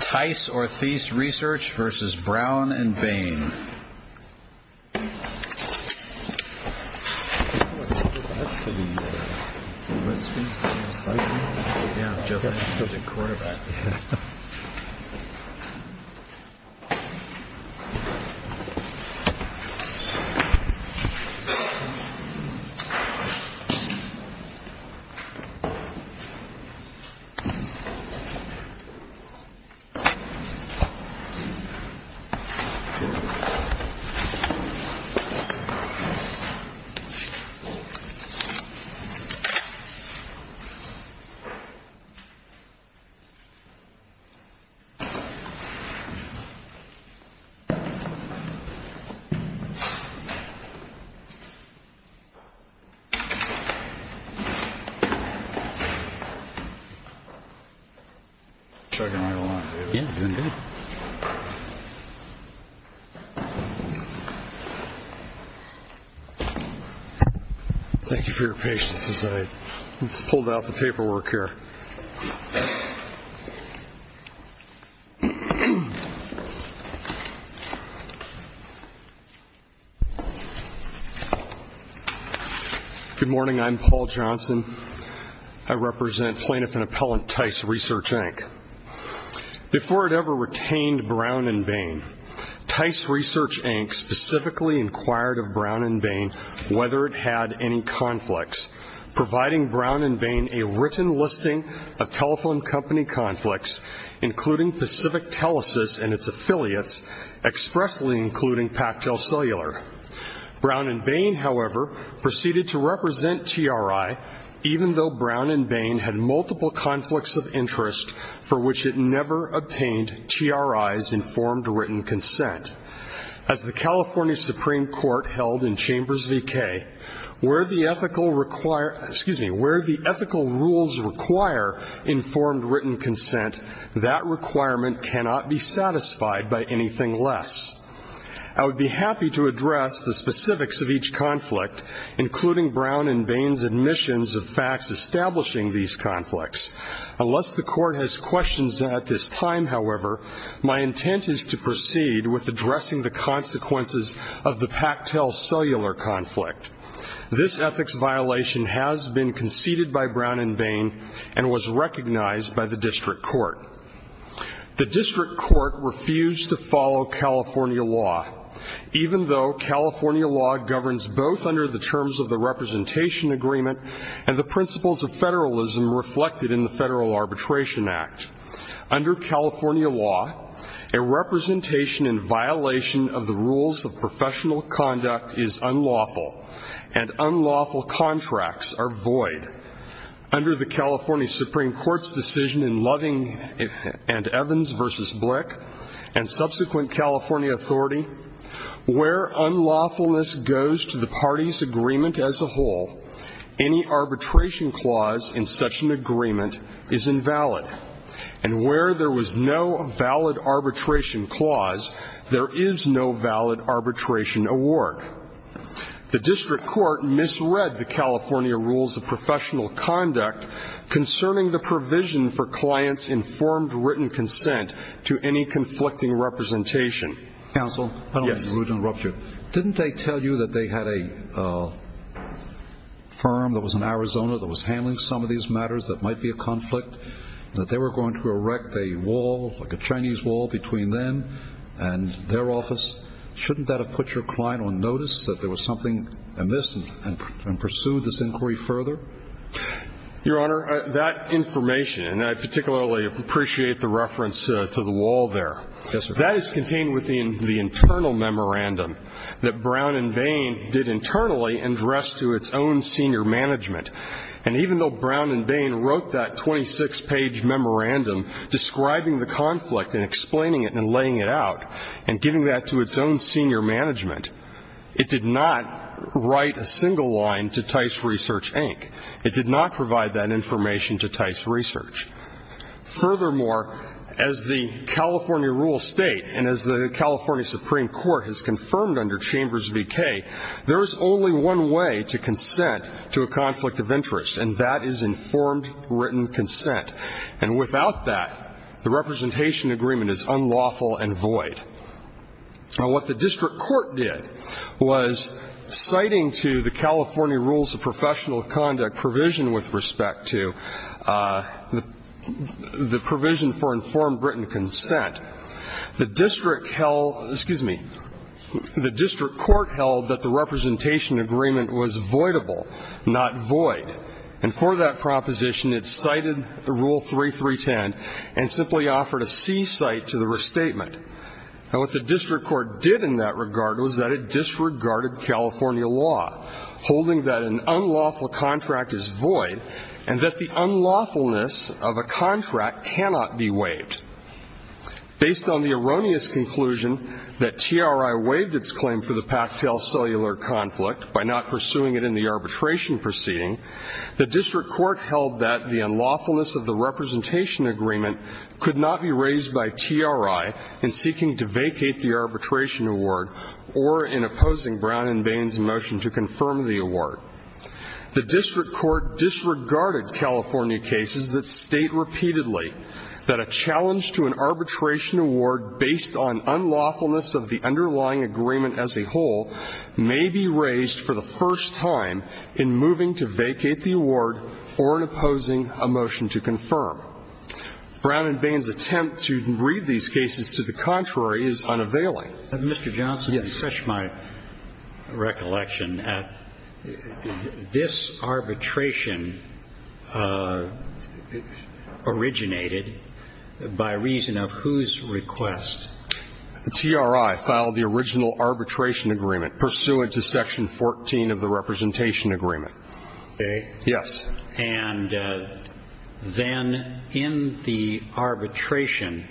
Tice or Thies Research vs. Brown and Bain. Tice or Thies Research vs. Brown and Bain. Thank you for your patience as I pulled out the paperwork here. Good morning, I'm Paul Johnson. I represent Plaintiff and Appellant Tice Research, Inc. Before it ever retained Brown and Bain, Tice Research, Inc. specifically inquired of Brown and Bain whether it had any conflicts, providing Brown and Bain a written listing of telephone company conflicts, including Pacific Telesis and its affiliates, expressly including Pactel Cellular. Brown and Bain, however, proceeded to represent TRI, even though Brown and Bain had multiple conflicts of interest for which it never obtained TRI's informed written consent. As the California Supreme Court held in Chambers V.K., where the ethical rules require informed written consent, that requirement cannot be satisfied by anything less. I would be happy to address the specifics of each conflict, including Brown and Bain's admissions of facts establishing these conflicts. Unless the Court has questions at this time, however, my intent is to proceed with addressing the consequences of the Pactel Cellular conflict. This ethics violation has been conceded by Brown and Bain and was recognized by the District Court. The District Court refused to follow California law, even though California law governs both under the terms of the Representation Agreement and the principles of federalism reflected in the Federal Arbitration Act. Under California law, a representation in violation of the rules of professional conduct is unlawful and unlawful contracts are void. Under the California Supreme Court's decision in Loving and Evans v. Blick and subsequent California authority, where unlawfulness goes to the party's agreement as a whole, any arbitration clause in such an agreement is invalid. And where there was no valid arbitration clause, there is no valid arbitration award. The District Court misread the California rules of professional conduct concerning the provision for clients' informed written consent to any conflicting representation. Counsel? Yes. Didn't they tell you that they had a firm that was in Arizona that was handling some of these matters that might be a conflict and that they were going to erect a wall, like a Chinese wall, between them and their office? Shouldn't that have put your client on notice that there was something amiss and pursued this inquiry further? Your Honor, that information, and I particularly appreciate the reference to the wall there. Yes, sir. That is contained within the internal memorandum that Brown and Bain did internally address to its own senior management. And even though Brown and Bain wrote that 26-page memorandum describing the conflict and explaining it and laying it out and giving that to its own senior management, it did not write a single line to Tice Research, Inc. It did not provide that information to Tice Research. Furthermore, as the California Rural State and as the California Supreme Court has confirmed under Chambers v. K., there is only one way to consent to a conflict of interest, and that is informed written consent. And without that, the representation agreement is unlawful and void. What the district court did was citing to the California Rules of Professional Conduct provision with respect to the provision for informed written consent, the district held, excuse me, the district court held that the representation agreement was voidable, not void. And for that proposition, it cited the Rule 3310 and simply offered a c-cite to the restatement. And what the district court did in that regard was that it disregarded California law, holding that an unlawful contract is void and that the unlawfulness of a contract cannot be waived. Based on the erroneous conclusion that TRI waived its claim for the Pactel cellular conflict by not pursuing it in the arbitration proceeding, the district court held that the unlawfulness of the representation agreement could not be raised by TRI in seeking to vacate the arbitration award or in opposing Brown and Bain's motion to confirm the award. The district court disregarded California cases that state repeatedly that a challenge to an arbitration award based on unlawfulness of the underlying agreement as a whole may be raised for the first time in moving to vacate the award or in opposing a motion to confirm. Brown and Bain's attempt to read these cases to the contrary is unavailing. Mr. Johnson, it's such my recollection, this arbitration originated by reason of whose request? The TRI filed the original arbitration agreement pursuant to Section 14 of the representation agreement. Okay. Yes. And then in the arbitration,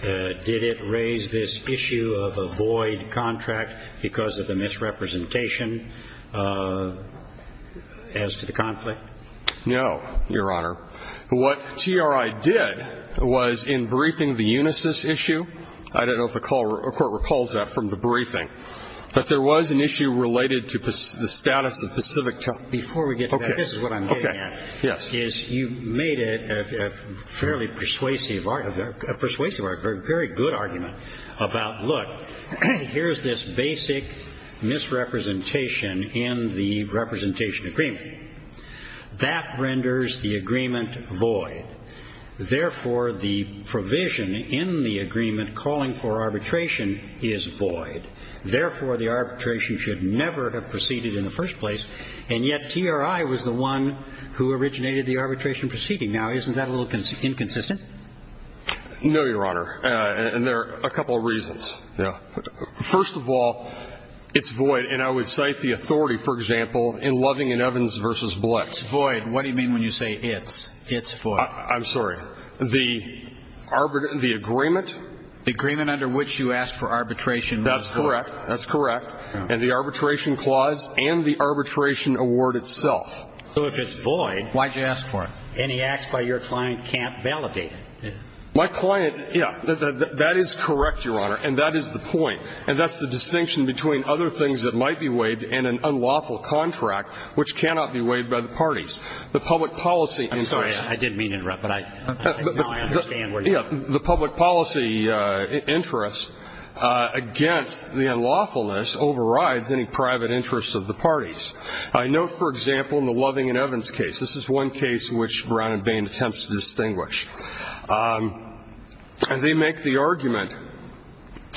did it raise this issue of a void contract because of the misrepresentation as to the conflict? No, Your Honor. What TRI did was in briefing the UNISYS issue. I don't know if the court recalls that from the briefing, but there was an issue related to the status of Pacific Telecom. Before we get to that, this is what I'm getting at. Yes. You made a fairly persuasive argument, a persuasive argument, a very good argument about, look, here's this basic misrepresentation in the representation agreement. That renders the agreement void. Therefore, the provision in the agreement calling for arbitration is void. Therefore, the arbitration should never have proceeded in the first place. And yet TRI was the one who originated the arbitration proceeding. Now, isn't that a little inconsistent? No, Your Honor. And there are a couple of reasons. First of all, it's void. And I would cite the authority, for example, in Loving and Evans v. Blitz. Void. What do you mean when you say it's? It's void. I'm sorry. The agreement. Agreement under which you asked for arbitration. That's correct. That's correct. And the arbitration clause and the arbitration award itself. So if it's void, why did you ask for it? Any acts by your client can't validate it. My client, yeah, that is correct, Your Honor, and that is the point. And that's the distinction between other things that might be waived in an unlawful contract which cannot be waived by the parties. The public policy interest. I didn't mean to interrupt, but I understand where you're coming from. Yeah, the public policy interest against the unlawfulness overrides any private interests of the parties. I know, for example, in the Loving and Evans case, this is one case which Brown and Bain attempts to distinguish. They make the argument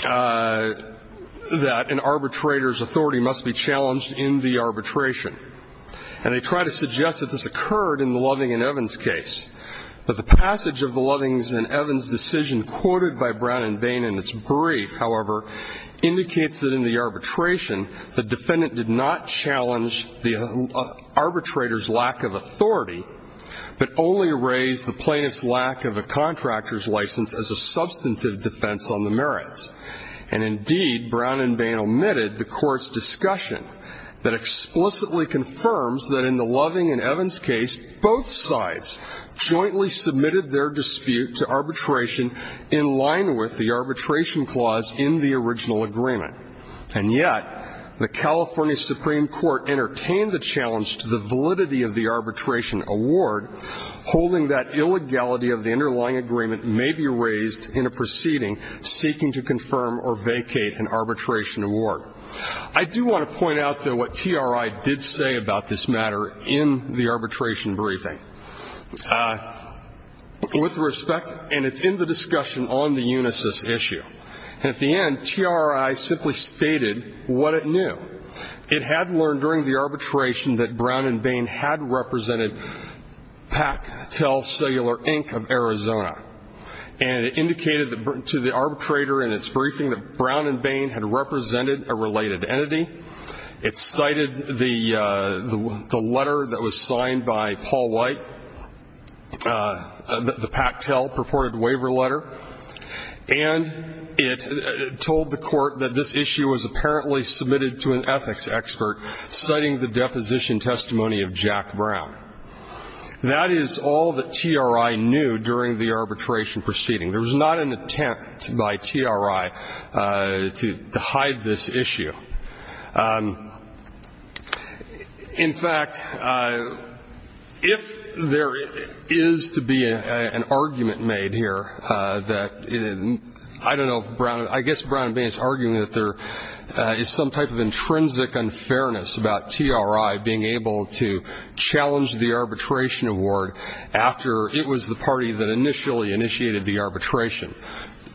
that an arbitrator's authority must be challenged in the arbitration. And they try to suggest that this occurred in the Loving and Evans case. But the passage of the Loving and Evans decision quoted by Brown and Bain in its brief, however, indicates that in the arbitration, the defendant did not challenge the arbitrator's lack of authority, but only raised the plaintiff's lack of a contractor's license as a substantive defense on the merits. And, indeed, Brown and Bain omitted the court's discussion that explicitly confirms that in the Loving and Evans case, both sides jointly submitted their dispute to arbitration in line with the arbitration clause in the original agreement. And yet the California Supreme Court entertained the challenge to the validity of the arbitration award, holding that illegality of the underlying agreement may be raised in a proceeding seeking to confirm or vacate an arbitration award. I do want to point out, though, what TRI did say about this matter in the arbitration briefing. With respect, and it's in the discussion on the Unisys issue, and at the end, TRI simply stated what it knew. It had learned during the arbitration that Brown and Bain had represented Pac-Tel Cellular Inc. of Arizona. And it indicated to the arbitrator in its briefing that Brown and Bain had represented a related entity. It cited the letter that was signed by Paul White, the Pac-Tel purported waiver letter. And it told the Court that this issue was apparently submitted to an ethics expert, citing the deposition testimony of Jack Brown. That is all that TRI knew during the arbitration proceeding. There was not an attempt by TRI to hide this issue. In fact, if there is to be an argument made here that, I don't know, I guess Brown and Bain is arguing that there is some type of intrinsic unfairness about TRI being able to challenge the arbitration award after it was the party that initially initiated the arbitration,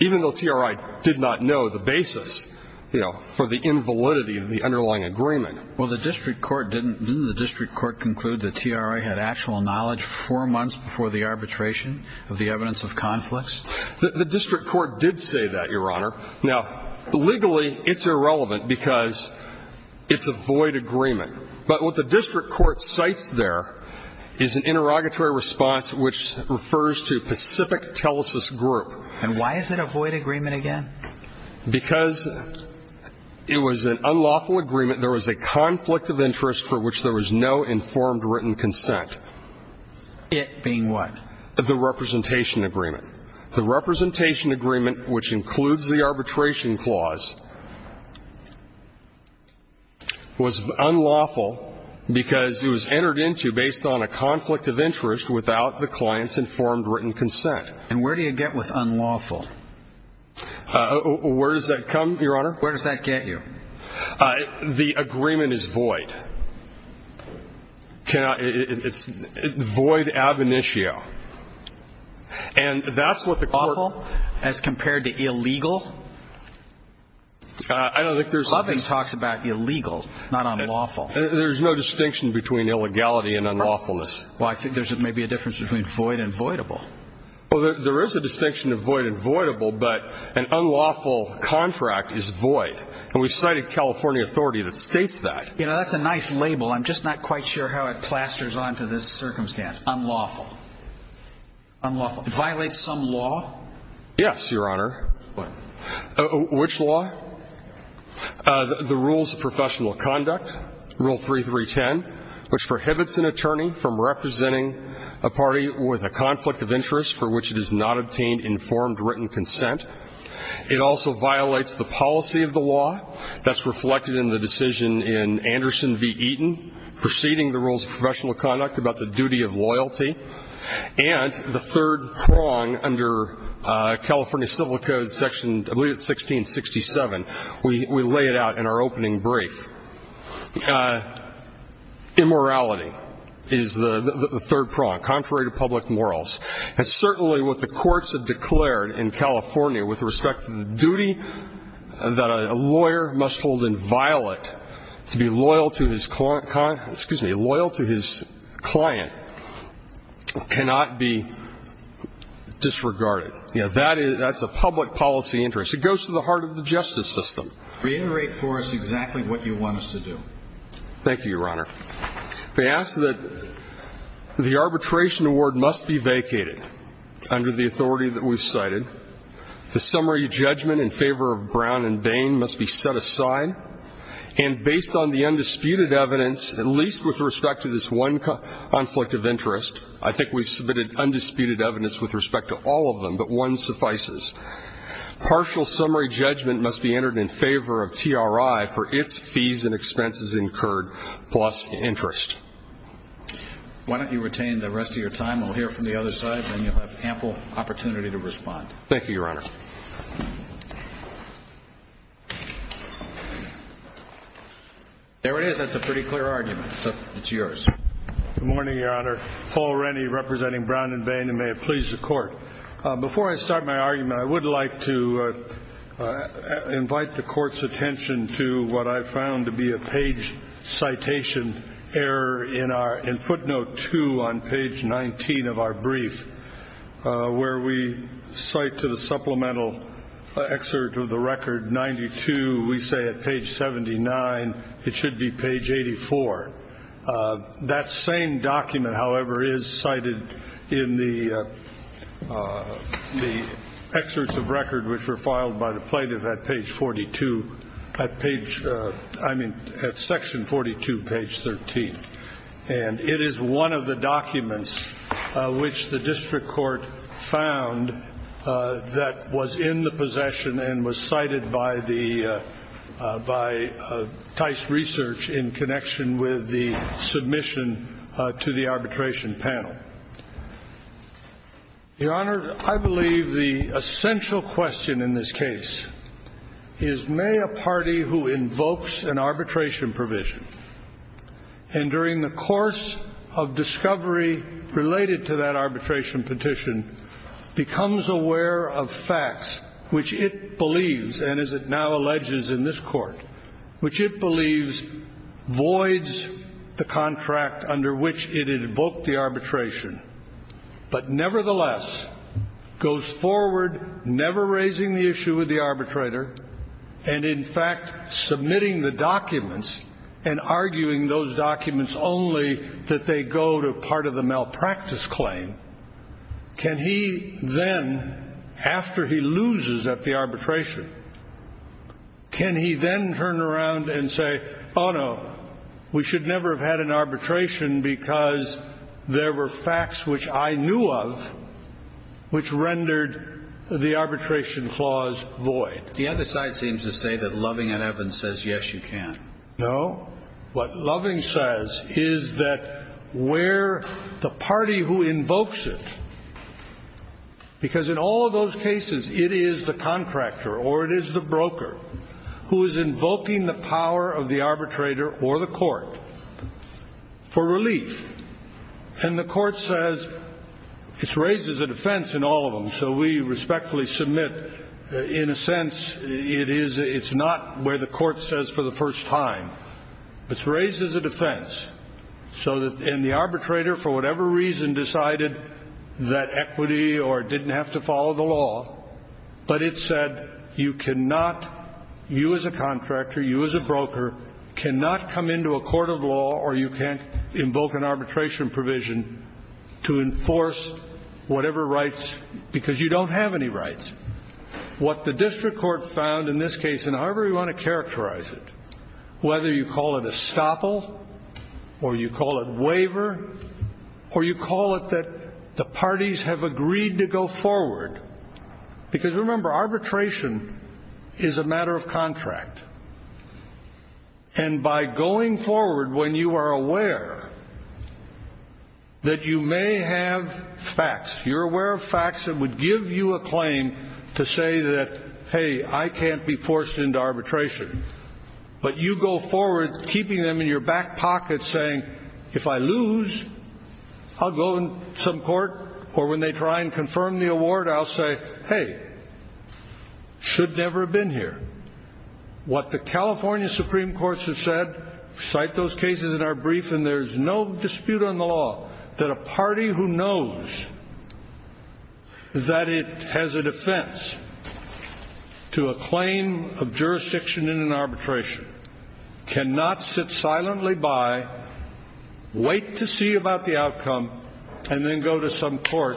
even though TRI did not know the basis, you know, for the invalidity of the underlying agreement. Well, the district court didn't do the district court conclude that TRI had actual knowledge four months before the arbitration of the evidence of conflicts? The district court did say that, Your Honor. Now, legally, it's irrelevant because it's a void agreement. But what the district court cites there is an interrogatory response which refers to Pacific Telesis Group. And why is it a void agreement again? Because it was an unlawful agreement. There was a conflict of interest for which there was no informed written consent. It being what? The representation agreement. The representation agreement, which includes the arbitration clause, was unlawful because it was entered into based on a conflict of interest without the client's informed written consent. And where do you get with unlawful? Where does that come, Your Honor? Where does that get you? The agreement is void. It's void ab initio. And that's what the court ---- Unlawful as compared to illegal? I don't think there's ---- Nothing talks about illegal, not unlawful. There's no distinction between illegality and unlawfulness. Well, I think there's maybe a difference between void and voidable. Well, there is a distinction of void and voidable, but an unlawful contract is void. And we've cited California authority that states that. You know, that's a nice label. I'm just not quite sure how it plasters onto this circumstance, unlawful. Unlawful. It violates some law? Yes, Your Honor. What? Which law? The Rules of Professional Conduct, Rule 3310, which prohibits an attorney from representing a party with a conflict of interest for which it has not obtained informed written consent. It also violates the policy of the law. That's reflected in the decision in Anderson v. Eaton, preceding the Rules of Professional Conduct, about the duty of loyalty. And the third prong under California Civil Code Section, I believe it's 1667. We lay it out in our opening brief. Immorality is the third prong, contrary to public morals. It's certainly what the courts have declared in California with respect to the duty that a lawyer must hold inviolate to be loyal to his client. It cannot be disregarded. That's a public policy interest. It goes to the heart of the justice system. Reiterate for us exactly what you want us to do. Thank you, Your Honor. If I ask that the arbitration award must be vacated under the authority that we've cited, the summary judgment in favor of Brown and Bain must be set aside, and based on the undisputed evidence, at least with respect to this one conflict of interest, I think we've submitted undisputed evidence with respect to all of them, but one suffices. Partial summary judgment must be entered in favor of TRI for its fees and expenses incurred plus interest. Why don't you retain the rest of your time? We'll hear from the other side, and then you'll have ample opportunity to respond. Thank you, Your Honor. There it is. That's a pretty clear argument. It's yours. Good morning, Your Honor. Paul Rennie representing Brown and Bain, and may it please the Court. Before I start my argument, I would like to invite the Court's attention to what I found to be a page citation error in footnote 2 on page 19 of our brief where we cite to the supplemental excerpt of the record 92, we say at page 79 it should be page 84. That same document, however, is cited in the excerpts of record which were filed by the plaintiff at page 42, I mean at section 42, page 13. And it is one of the documents which the district court found that was in the possession and was cited by TICE research in connection with the submission to the arbitration panel. Your Honor, I believe the essential question in this case is may a party who invokes an arbitration provision and during the course of discovery related to that arbitration petition becomes aware of facts which it believes, and as it now alleges in this Court, which it believes voids the contract under which it invoked the arbitration, but nevertheless goes forward never raising the issue with the arbitrator and in fact submitting the documents and arguing those documents only that they go to part of the malpractice claim, can he then, after he loses at the arbitration, can he then turn around and say, oh, no, we should never have had an arbitration because there were facts which I knew of which rendered the arbitration clause void. The other side seems to say that Loving and Evans says, yes, you can. No. What Loving says is that where the party who invokes it, because in all those cases it is the contractor or it is the broker who is invoking the power of the arbitrator or the court for relief, and the court says it's raised as a defense in all of them, so we respectfully submit in a sense it's not where the court says for the first time. It's raised as a defense so that the arbitrator, for whatever reason, decided that equity or didn't have to follow the law, but it said you cannot, you as a contractor, you as a broker, cannot come into a court of law or you can't invoke an arbitration provision to enforce whatever rights because you don't have any rights. What the district court found in this case, and however you want to characterize it, whether you call it estoppel or you call it waiver or you call it that the parties have agreed to go forward, because remember arbitration is a matter of contract, and by going forward when you are aware that you may have facts, you're aware of facts that would give you a claim to say that, hey, I can't be forced into arbitration, but you go forward keeping them in your back pocket saying, if I lose, I'll go to some court, or when they try and confirm the award, I'll say, hey, should never have been here. What the California Supreme Court has said, cite those cases in our brief, and there's no dispute on the law that a party who knows that it has a defense to a claim of jurisdiction in an arbitration cannot sit silently by, wait to see about the outcome, and then go to some court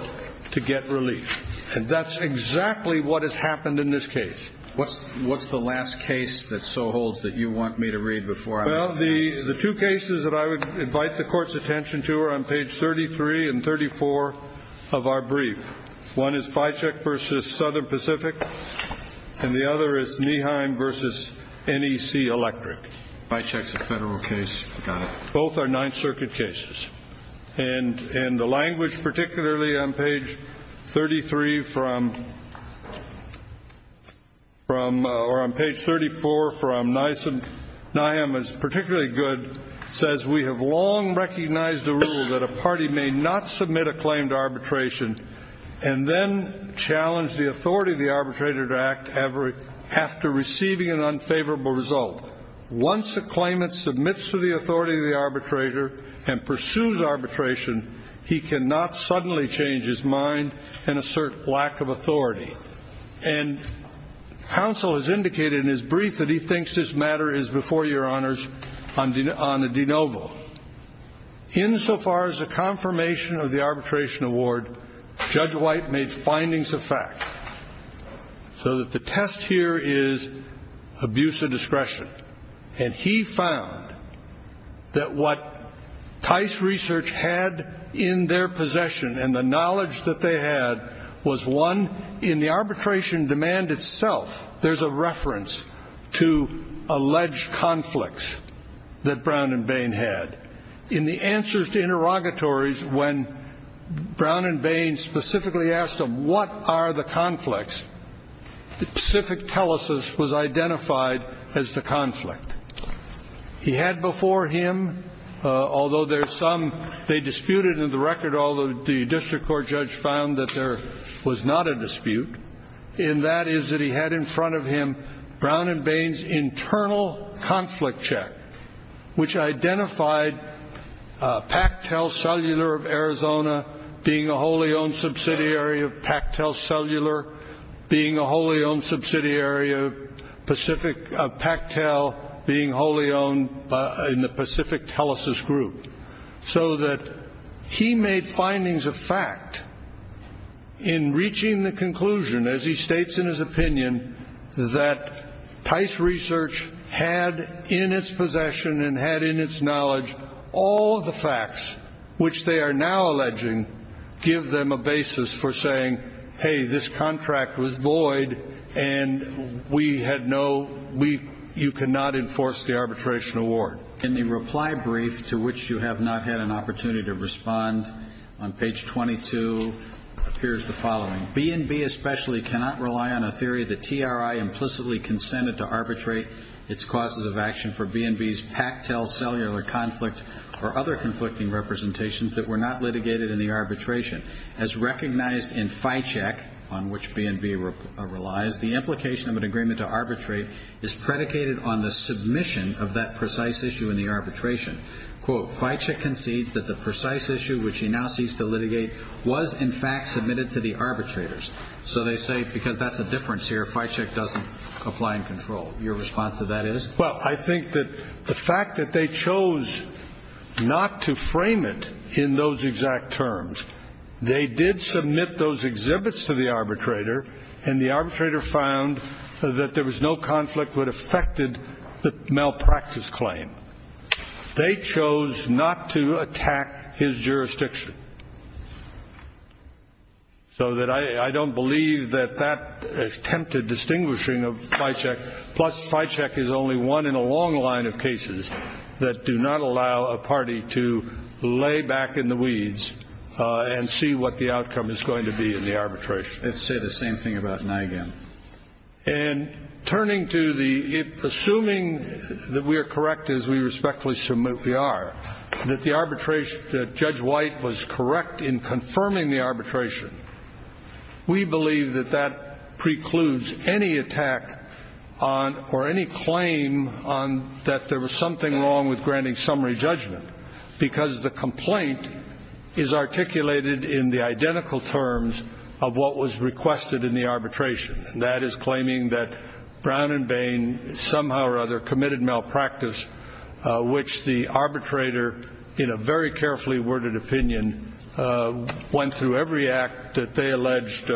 to get relief. And that's exactly what has happened in this case. What's the last case that so holds that you want me to read before I move on? Well, the two cases that I would invite the Court's attention to are on page 33 and 34 of our brief. One is Fycheck v. Southern Pacific, and the other is Nieheim v. NEC Electric. Fycheck's a federal case. Both are Ninth Circuit cases. And the language, particularly on page 33 from or on page 34 from Niamh is particularly good, says we have long recognized the rule that a party may not submit a claim to arbitration and then challenge the authority of the arbitrator to act after receiving an unfavorable result. Once a claimant submits to the authority of the arbitrator and pursues arbitration, he cannot suddenly change his mind and assert lack of authority. And counsel has indicated in his brief that he thinks this matter is before your honors on a de novo. Insofar as the confirmation of the arbitration award, Judge White made findings of fact so that the test here is abuse of discretion. And he found that what Tice Research had in their possession and the knowledge that they had was one in the arbitration demand itself. There's a reference to alleged conflicts that Brown and Bain had. In the answers to interrogatories, when Brown and Bain specifically asked them, what are the conflicts, the Pacific Telesis was identified as the conflict. He had before him, although there's some they disputed in the record, although the district court judge found that there was not a dispute, and that is that he had in front of him Brown and Bain's internal conflict check, which identified PacTel Cellular of Arizona being a wholly owned subsidiary of PacTel Cellular, being a wholly owned subsidiary of PacTel, being wholly owned in the Pacific Telesis Group, so that he made findings of fact in reaching the conclusion, as he states in his opinion, that Tice Research had in its possession and had in its knowledge all of the facts which they are now alleging give them a basis for saying, hey, this contract was void and we had no, you cannot enforce the arbitration award. In the reply brief, to which you have not had an opportunity to respond, on page 22 appears the following. B&B especially cannot rely on a theory that TRI implicitly consented to arbitrate its causes of action for B&B's PacTel Cellular conflict or other conflicting representations that were not litigated in the arbitration. As recognized in FICHEC, on which B&B relies, the implication of an agreement to arbitrate is predicated on the submission of that precise issue in the arbitration. Quote, FICHEC concedes that the precise issue, which he now sees to litigate, was in fact submitted to the arbitrators. So they say because that's a difference here, FICHEC doesn't apply and control. Your response to that is? Well, I think that the fact that they chose not to frame it in those exact terms, they did submit those exhibits to the arbitrator, and the arbitrator found that there was no conflict that affected the malpractice claim. They chose not to attack his jurisdiction. So I don't believe that that attempted distinguishing of FICHEC, plus FICHEC is only one in a long line of cases that do not allow a party to lay back in the weeds and see what the outcome is going to be in the arbitration. Let's say the same thing about NIGAN. And turning to the assuming that we are correct, as we respectfully submit we are, that the arbitration that Judge White was correct in confirming the arbitration, we believe that that precludes any attack on or any claim on that there was something wrong with granting summary judgment because the complaint is articulated in the identical terms of what was requested in the arbitration. That is claiming that Brown and Bain somehow or other committed malpractice, which the arbitrator in a very carefully worded opinion went through every act that they alleged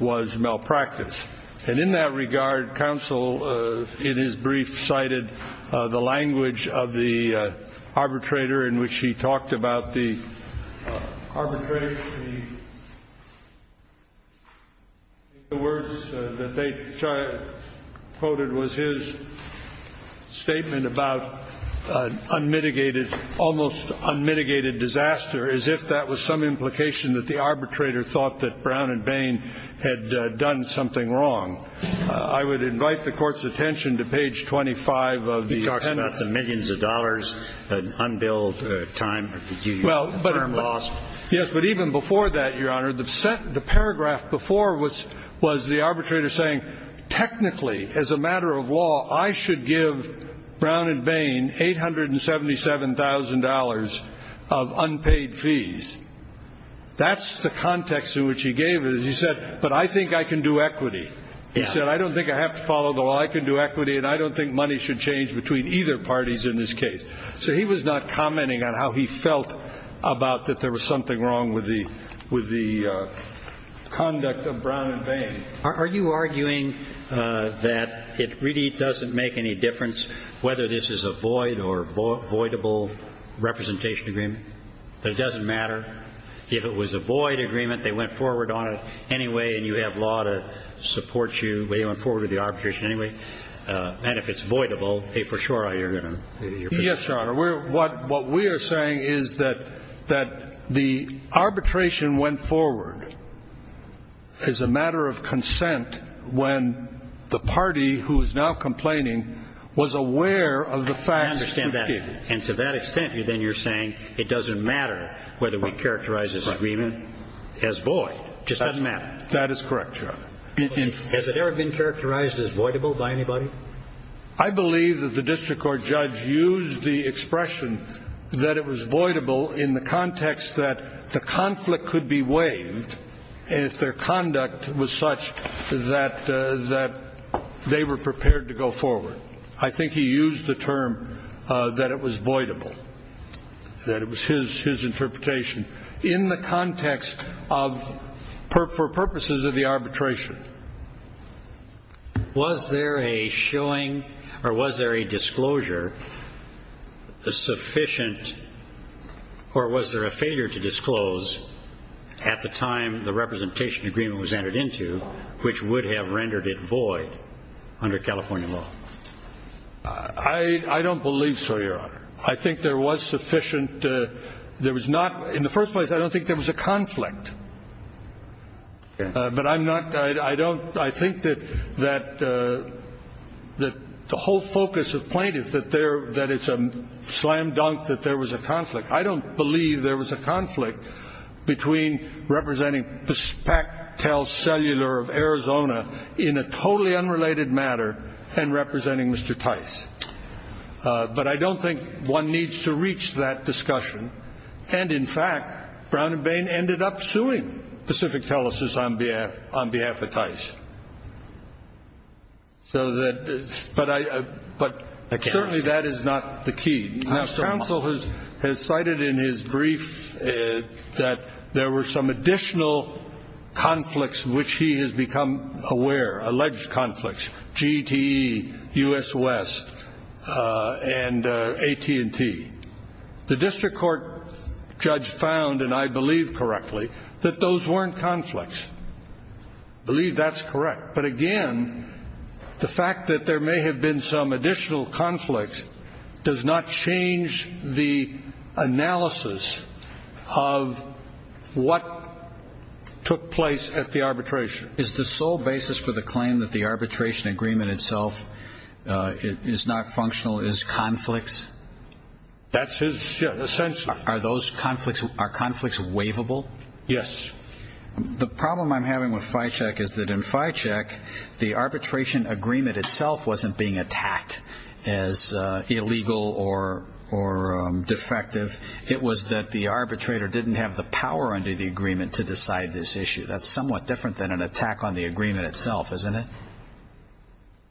was malpractice. And in that regard, counsel in his brief cited the language of the arbitrator in which he talked about the arbitration. The words that they quoted was his statement about almost unmitigated disaster as if that was some implication that the arbitrator thought that Brown and Bain had done something wrong. I would invite the court's attention to page 25 of the penance. He talks about the millions of dollars, unbilled time. Yes, but even before that, Your Honor, the paragraph before was the arbitrator saying, as a matter of law, I should give Brown and Bain $877,000 of unpaid fees. That's the context in which he gave it. He said, but I think I can do equity. He said, I don't think I have to follow the law. I can do equity and I don't think money should change between either parties in this case. So he was not commenting on how he felt about that there was something wrong with the with the conduct of Brown and Bain. Are you arguing that it really doesn't make any difference whether this is a void or voidable representation agreement? It doesn't matter if it was a void agreement. They went forward on it anyway and you have law to support you. They went forward with the arbitration anyway. And if it's voidable, for sure, you're going to. Yes, Your Honor. What we are saying is that the arbitration went forward as a matter of consent when the party who is now complaining was aware of the facts. I understand that. And to that extent, then you're saying it doesn't matter whether we characterize this agreement as void. It just doesn't matter. That is correct, Your Honor. Has it ever been characterized as voidable by anybody? I believe that the district court judge used the expression that it was voidable in the context that the conflict could be waived if their conduct was such that they were prepared to go forward. I think he used the term that it was voidable, that it was his interpretation in the context of for purposes of the arbitration. Was there a showing or was there a disclosure sufficient or was there a failure to disclose at the time the representation agreement was entered into which would have rendered it void under California law? I don't believe so, Your Honor. I think there was sufficient. There was not. In the first place, I don't think there was a conflict. But I'm not. I don't. I think that that that the whole focus of plaintiff, that they're that it's a slam dunk, that there was a conflict. I don't believe there was a conflict between representing the fact tell cellular of Arizona in a totally unrelated matter and representing Mr. Tice. But I don't think one needs to reach that discussion. And, in fact, Brown and Bain ended up suing Pacific Telesis on behalf on behalf of Tice. So that. But I. But certainly that is not the key. Now, counsel has has cited in his brief that there were some additional conflicts which he has become aware, alleged conflicts, GTE, US West and AT&T. The district court judge found, and I believe correctly, that those weren't conflicts. I believe that's correct. But again, the fact that there may have been some additional conflicts does not change the analysis of what took place at the arbitration. Is the sole basis for the claim that the arbitration agreement itself is not functional, is conflicts. That's his sense. Are those conflicts? Are conflicts waivable? Yes. The problem I'm having with Fichek is that in Fichek, the arbitration agreement itself wasn't being attacked as illegal or or defective. It was that the arbitrator didn't have the power under the agreement to decide this issue. That's somewhat different than an attack on the agreement itself, isn't it?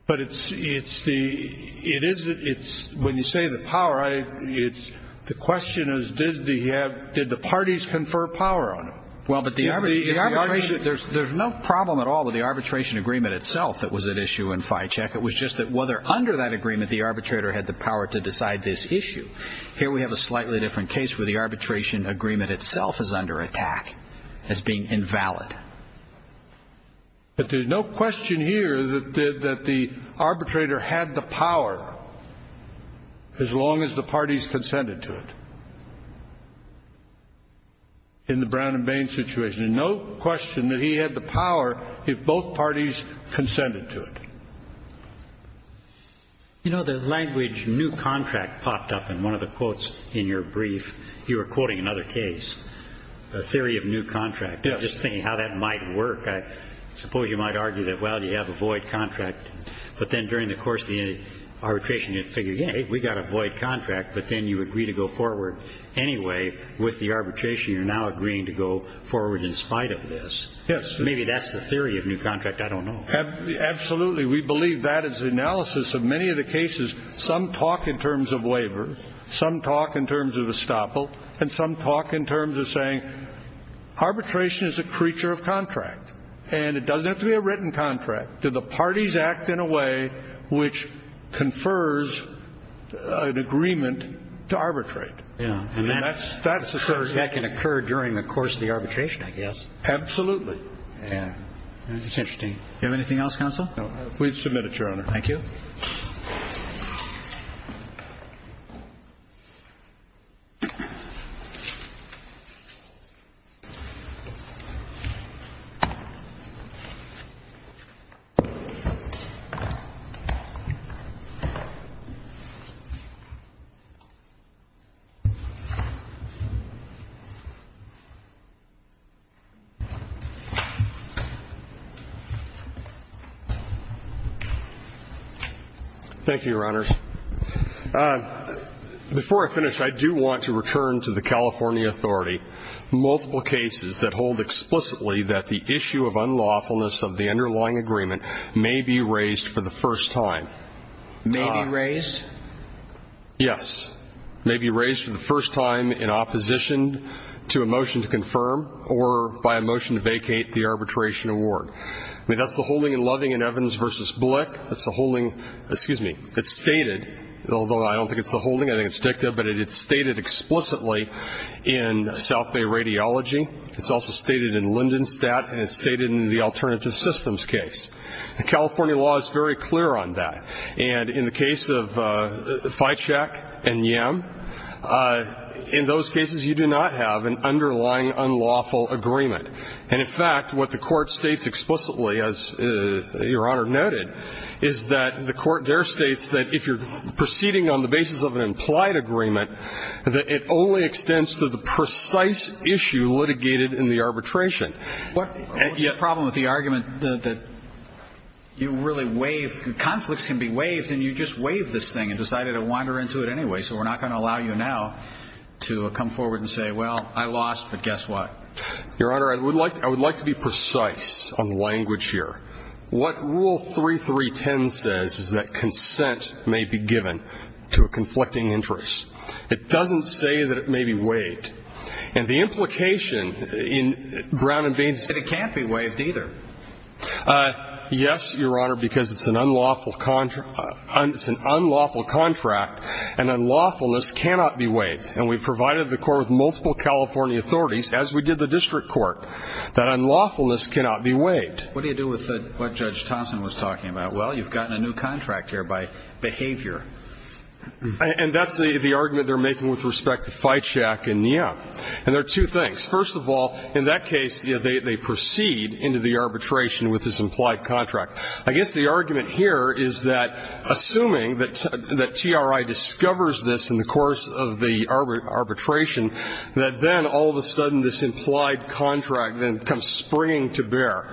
But it's it's the it is it's when you say the power, it's the question is, does the have did the parties confer power on? Well, but the arbitration there's there's no problem at all with the arbitration agreement itself. That was an issue in Fichek. It was just that whether under that agreement, the arbitrator had the power to decide this issue. Here we have a slightly different case where the arbitration agreement itself is under attack as being invalid. But there's no question here that that the arbitrator had the power as long as the parties consented to it. In the Brown and Bain situation, no question that he had the power if both parties consented to it. You know, the language new contract popped up in one of the quotes in your brief. You were quoting another case, a theory of new contract, just thinking how that might work. I suppose you might argue that, well, you have a void contract. But then during the course of the arbitration, you figure, yeah, we got a void contract. But then you agree to go forward anyway with the arbitration. You're now agreeing to go forward in spite of this. Yes. Maybe that's the theory of new contract. I don't know. Absolutely. We believe that is the analysis of many of the cases. Some talk in terms of waiver. Some talk in terms of estoppel. And some talk in terms of saying arbitration is a creature of contract and it doesn't have to be a written contract. Do the parties act in a way which confers an agreement to arbitrate? Yeah. And that's that's the first that can occur during the course of the arbitration, I guess. Absolutely. Yeah. That's interesting. Do you have anything else, counsel? No. We've submitted, Your Honor. Thank you. Thank you, Your Honors. Before I finish, I do want to return to the California authority. Multiple cases that hold explicitly that the issue of unlawfulness of the underlying agreement may be raised for the first time. May be raised? Yes. May be raised for the first time in opposition to a motion to confirm or by a motion to vacate the arbitration award. I mean, that's the holding in Loving and Evans v. Blick. That's the holding. Excuse me. It's stated, although I don't think it's the holding, I think it's dicta, but it's stated explicitly in South Bay Radiology. It's also stated in Lindenstat and it's stated in the Alternative Systems case. The California law is very clear on that. And in the case of Fitchek and Yam, in those cases you do not have an underlying unlawful agreement. And, in fact, what the Court states explicitly, as Your Honor noted, is that the Court there states that if you're proceeding on the basis of an implied agreement, that it only extends to the precise issue litigated in the arbitration. What's the problem with the argument that you really waive, conflicts can be waived, and you just waive this thing and decided to wander into it anyway, so we're not going to allow you now to come forward and say, well, I lost, but guess what? Your Honor, I would like to be precise on language here. What Rule 3.3.10 says is that consent may be given to a conflicting interest. It doesn't say that it may be waived. And the implication in brown and beans is that it can't be waived either. Yes, Your Honor, because it's an unlawful contract and unlawfulness cannot be waived. And we provided the Court with multiple California authorities, as we did the district court, that unlawfulness cannot be waived. What do you do with what Judge Thompson was talking about? Well, you've gotten a new contract here by behavior. And that's the argument they're making with respect to Feitschak and Niem. And there are two things. First of all, in that case, they proceed into the arbitration with this implied contract. I guess the argument here is that assuming that TRI discovers this in the course of the arbitration, that then all of a sudden this implied contract then comes springing to bear.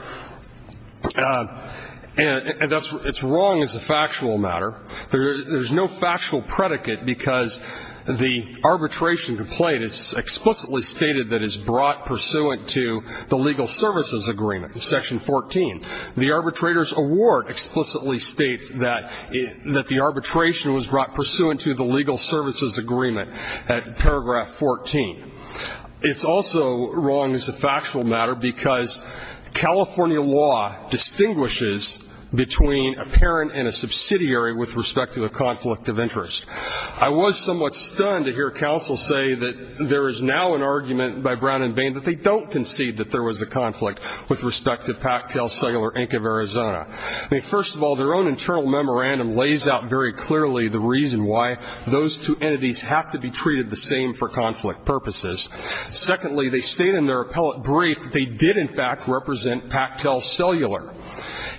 And it's wrong as a factual matter. There's no factual predicate because the arbitration complaint is explicitly stated that it's brought pursuant to the legal services agreement, section 14. The arbitrator's award explicitly states that the arbitration was brought pursuant to the legal services agreement at paragraph 14. It's also wrong as a factual matter because California law distinguishes between a parent and a subsidiary with respect to a conflict of interest. I was somewhat stunned to hear counsel say that there is now an argument by Brown and Bain that they don't concede that there was a conflict with respect to Pactel Cellular, Inc. of Arizona. I mean, first of all, their own internal memorandum lays out very clearly the reason why those two entities have to be treated the same for conflict purposes. Secondly, they state in their appellate brief that they did, in fact, represent Pactel Cellular.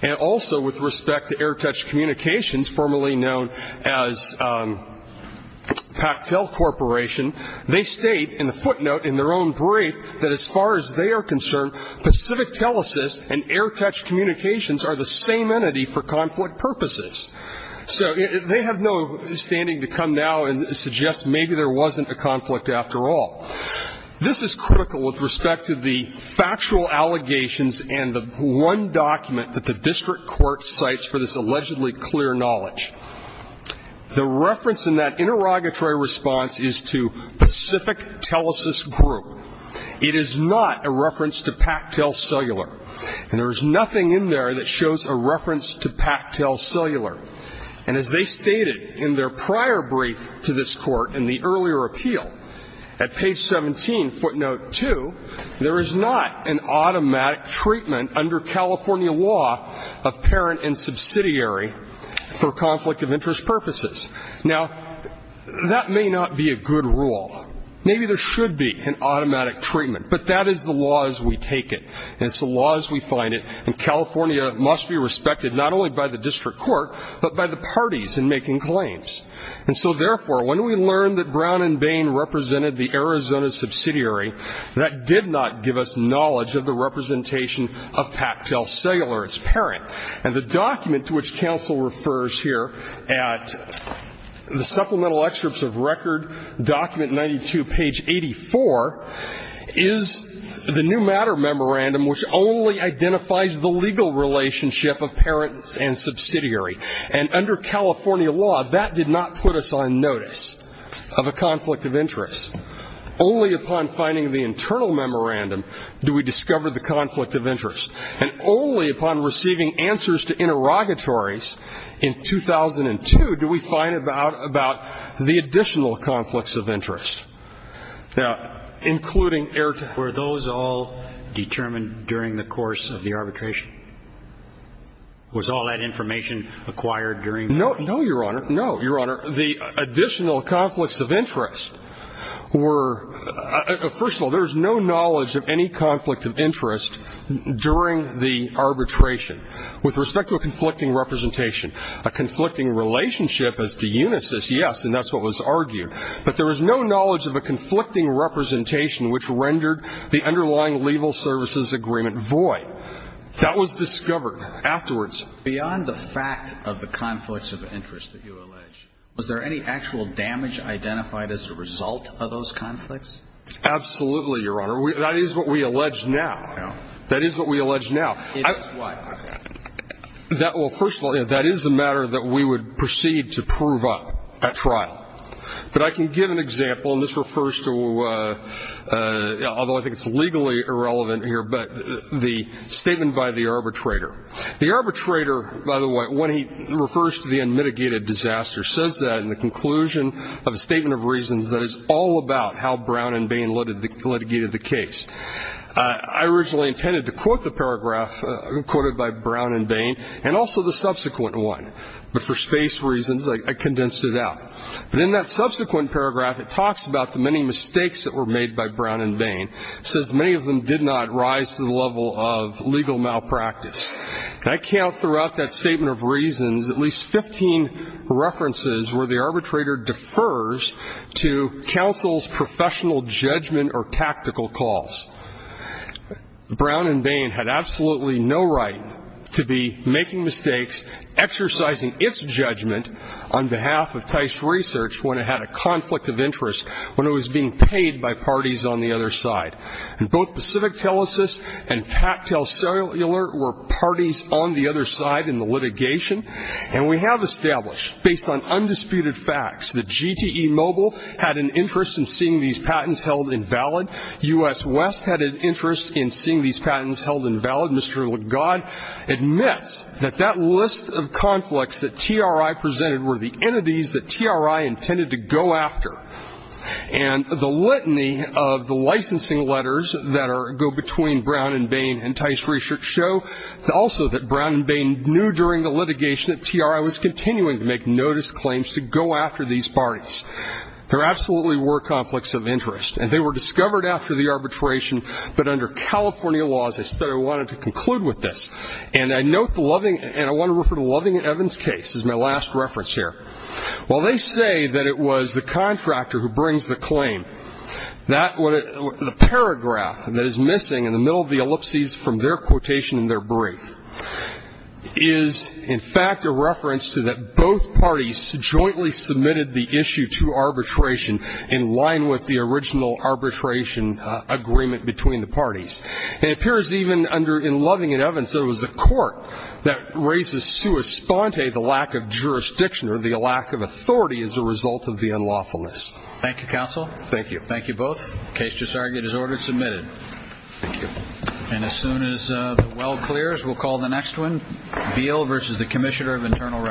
And also with respect to Airtouch Communications, formerly known as Pactel Corporation, they state in the footnote in their own brief that as far as they are concerned, Pacific Telesis and Airtouch Communications are the same entity for conflict purposes. So they have no standing to come now and suggest maybe there wasn't a conflict after all. This is critical with respect to the factual allegations and the one document that the district court cites for this allegedly clear knowledge. The reference in that interrogatory response is to Pacific Telesis Group. It is not a reference to Pactel Cellular. And there is nothing in there that shows a reference to Pactel Cellular. And as they stated in their prior brief to this Court in the earlier appeal, at page 17, footnote 2, there is not an automatic treatment under California law of parent and subsidiary for conflict of interest purposes. Now, that may not be a good rule. Maybe there should be an automatic treatment. But that is the law as we take it, and it's the law as we find it. And California must be respected not only by the district court, but by the parties in making claims. And so, therefore, when we learn that Brown and Bain represented the Arizona subsidiary, that did not give us knowledge of the representation of Pactel Cellular as parent. And the document to which counsel refers here at the supplemental excerpts of record, document 92, page 84, is the new matter memorandum, which only identifies the legal relationship of parent and subsidiary. And under California law, that did not put us on notice of a conflict of interest. Only upon finding the internal memorandum do we discover the conflict of interest. And only upon receiving answers to interrogatories in 2002 do we find out about the additional conflicts of interest. Now, including errata, were those all determined during the course of the arbitration? Was all that information acquired during? No, no, Your Honor. No, Your Honor. The additional conflicts of interest were, first of all, there is no knowledge of any conflict of interest during the arbitration. With respect to a conflicting representation, a conflicting relationship as to unisys, yes, and that's what was argued. But there was no knowledge of a conflicting representation which rendered the underlying legal services agreement void. That was discovered afterwards. Beyond the fact of the conflicts of interest that you allege, was there any actual damage identified as a result of those conflicts? Absolutely, Your Honor. That is what we allege now. No. That is what we allege now. It is what? Well, first of all, that is a matter that we would proceed to prove up at trial. But I can give an example, and this refers to, although I think it's legally irrelevant here, but the statement by the arbitrator. The arbitrator, by the way, when he refers to the unmitigated disaster, says that in the conclusion of a statement of reasons that it's all about how Brown and Bain litigated the case. I originally intended to quote the paragraph quoted by Brown and Bain and also the subsequent one. But for space reasons, I condensed it out. But in that subsequent paragraph, it talks about the many mistakes that were made by Brown and Bain. It says many of them did not rise to the level of legal malpractice. And I count throughout that statement of reasons at least 15 references where the arbitrator defers to counsel's professional judgment or tactical calls. Brown and Bain had absolutely no right to be making mistakes, exercising its judgment on behalf of Teich Research when it had a conflict of interest, when it was being paid by parties on the other side. And both Pacific Telesis and Pactel Cellular were parties on the other side in the litigation. And we have established, based on undisputed facts, that GTE Mobile had an interest in seeing these patents held invalid. U.S. West had an interest in seeing these patents held invalid. Mr. Legod admits that that list of conflicts that TRI presented were the entities that TRI intended to go after. And the litany of the licensing letters that go between Brown and Bain and Teich Research show also that Brown and Bain knew during the litigation that TRI was continuing to make notice claims to go after these parties. There absolutely were conflicts of interest. And they were discovered after the arbitration. But under California laws, I said I wanted to conclude with this. And I want to refer to Loving and Evans' case as my last reference here. While they say that it was the contractor who brings the claim, the paragraph that is missing in the middle of the ellipses from their quotation in their brief is, in fact, a reference to that both parties jointly submitted the issue to arbitration in line with the original arbitration agreement between the parties. It appears even under in Loving and Evans, there was a court that raises sua sponte the lack of jurisdiction or the lack of authority as a result of the unlawfulness. Thank you, counsel. Thank you. Thank you both. The case just argued is order submitted. Thank you. And as soon as the well clears, we'll call the next one. Beal versus the Commissioner of Internal Revenue.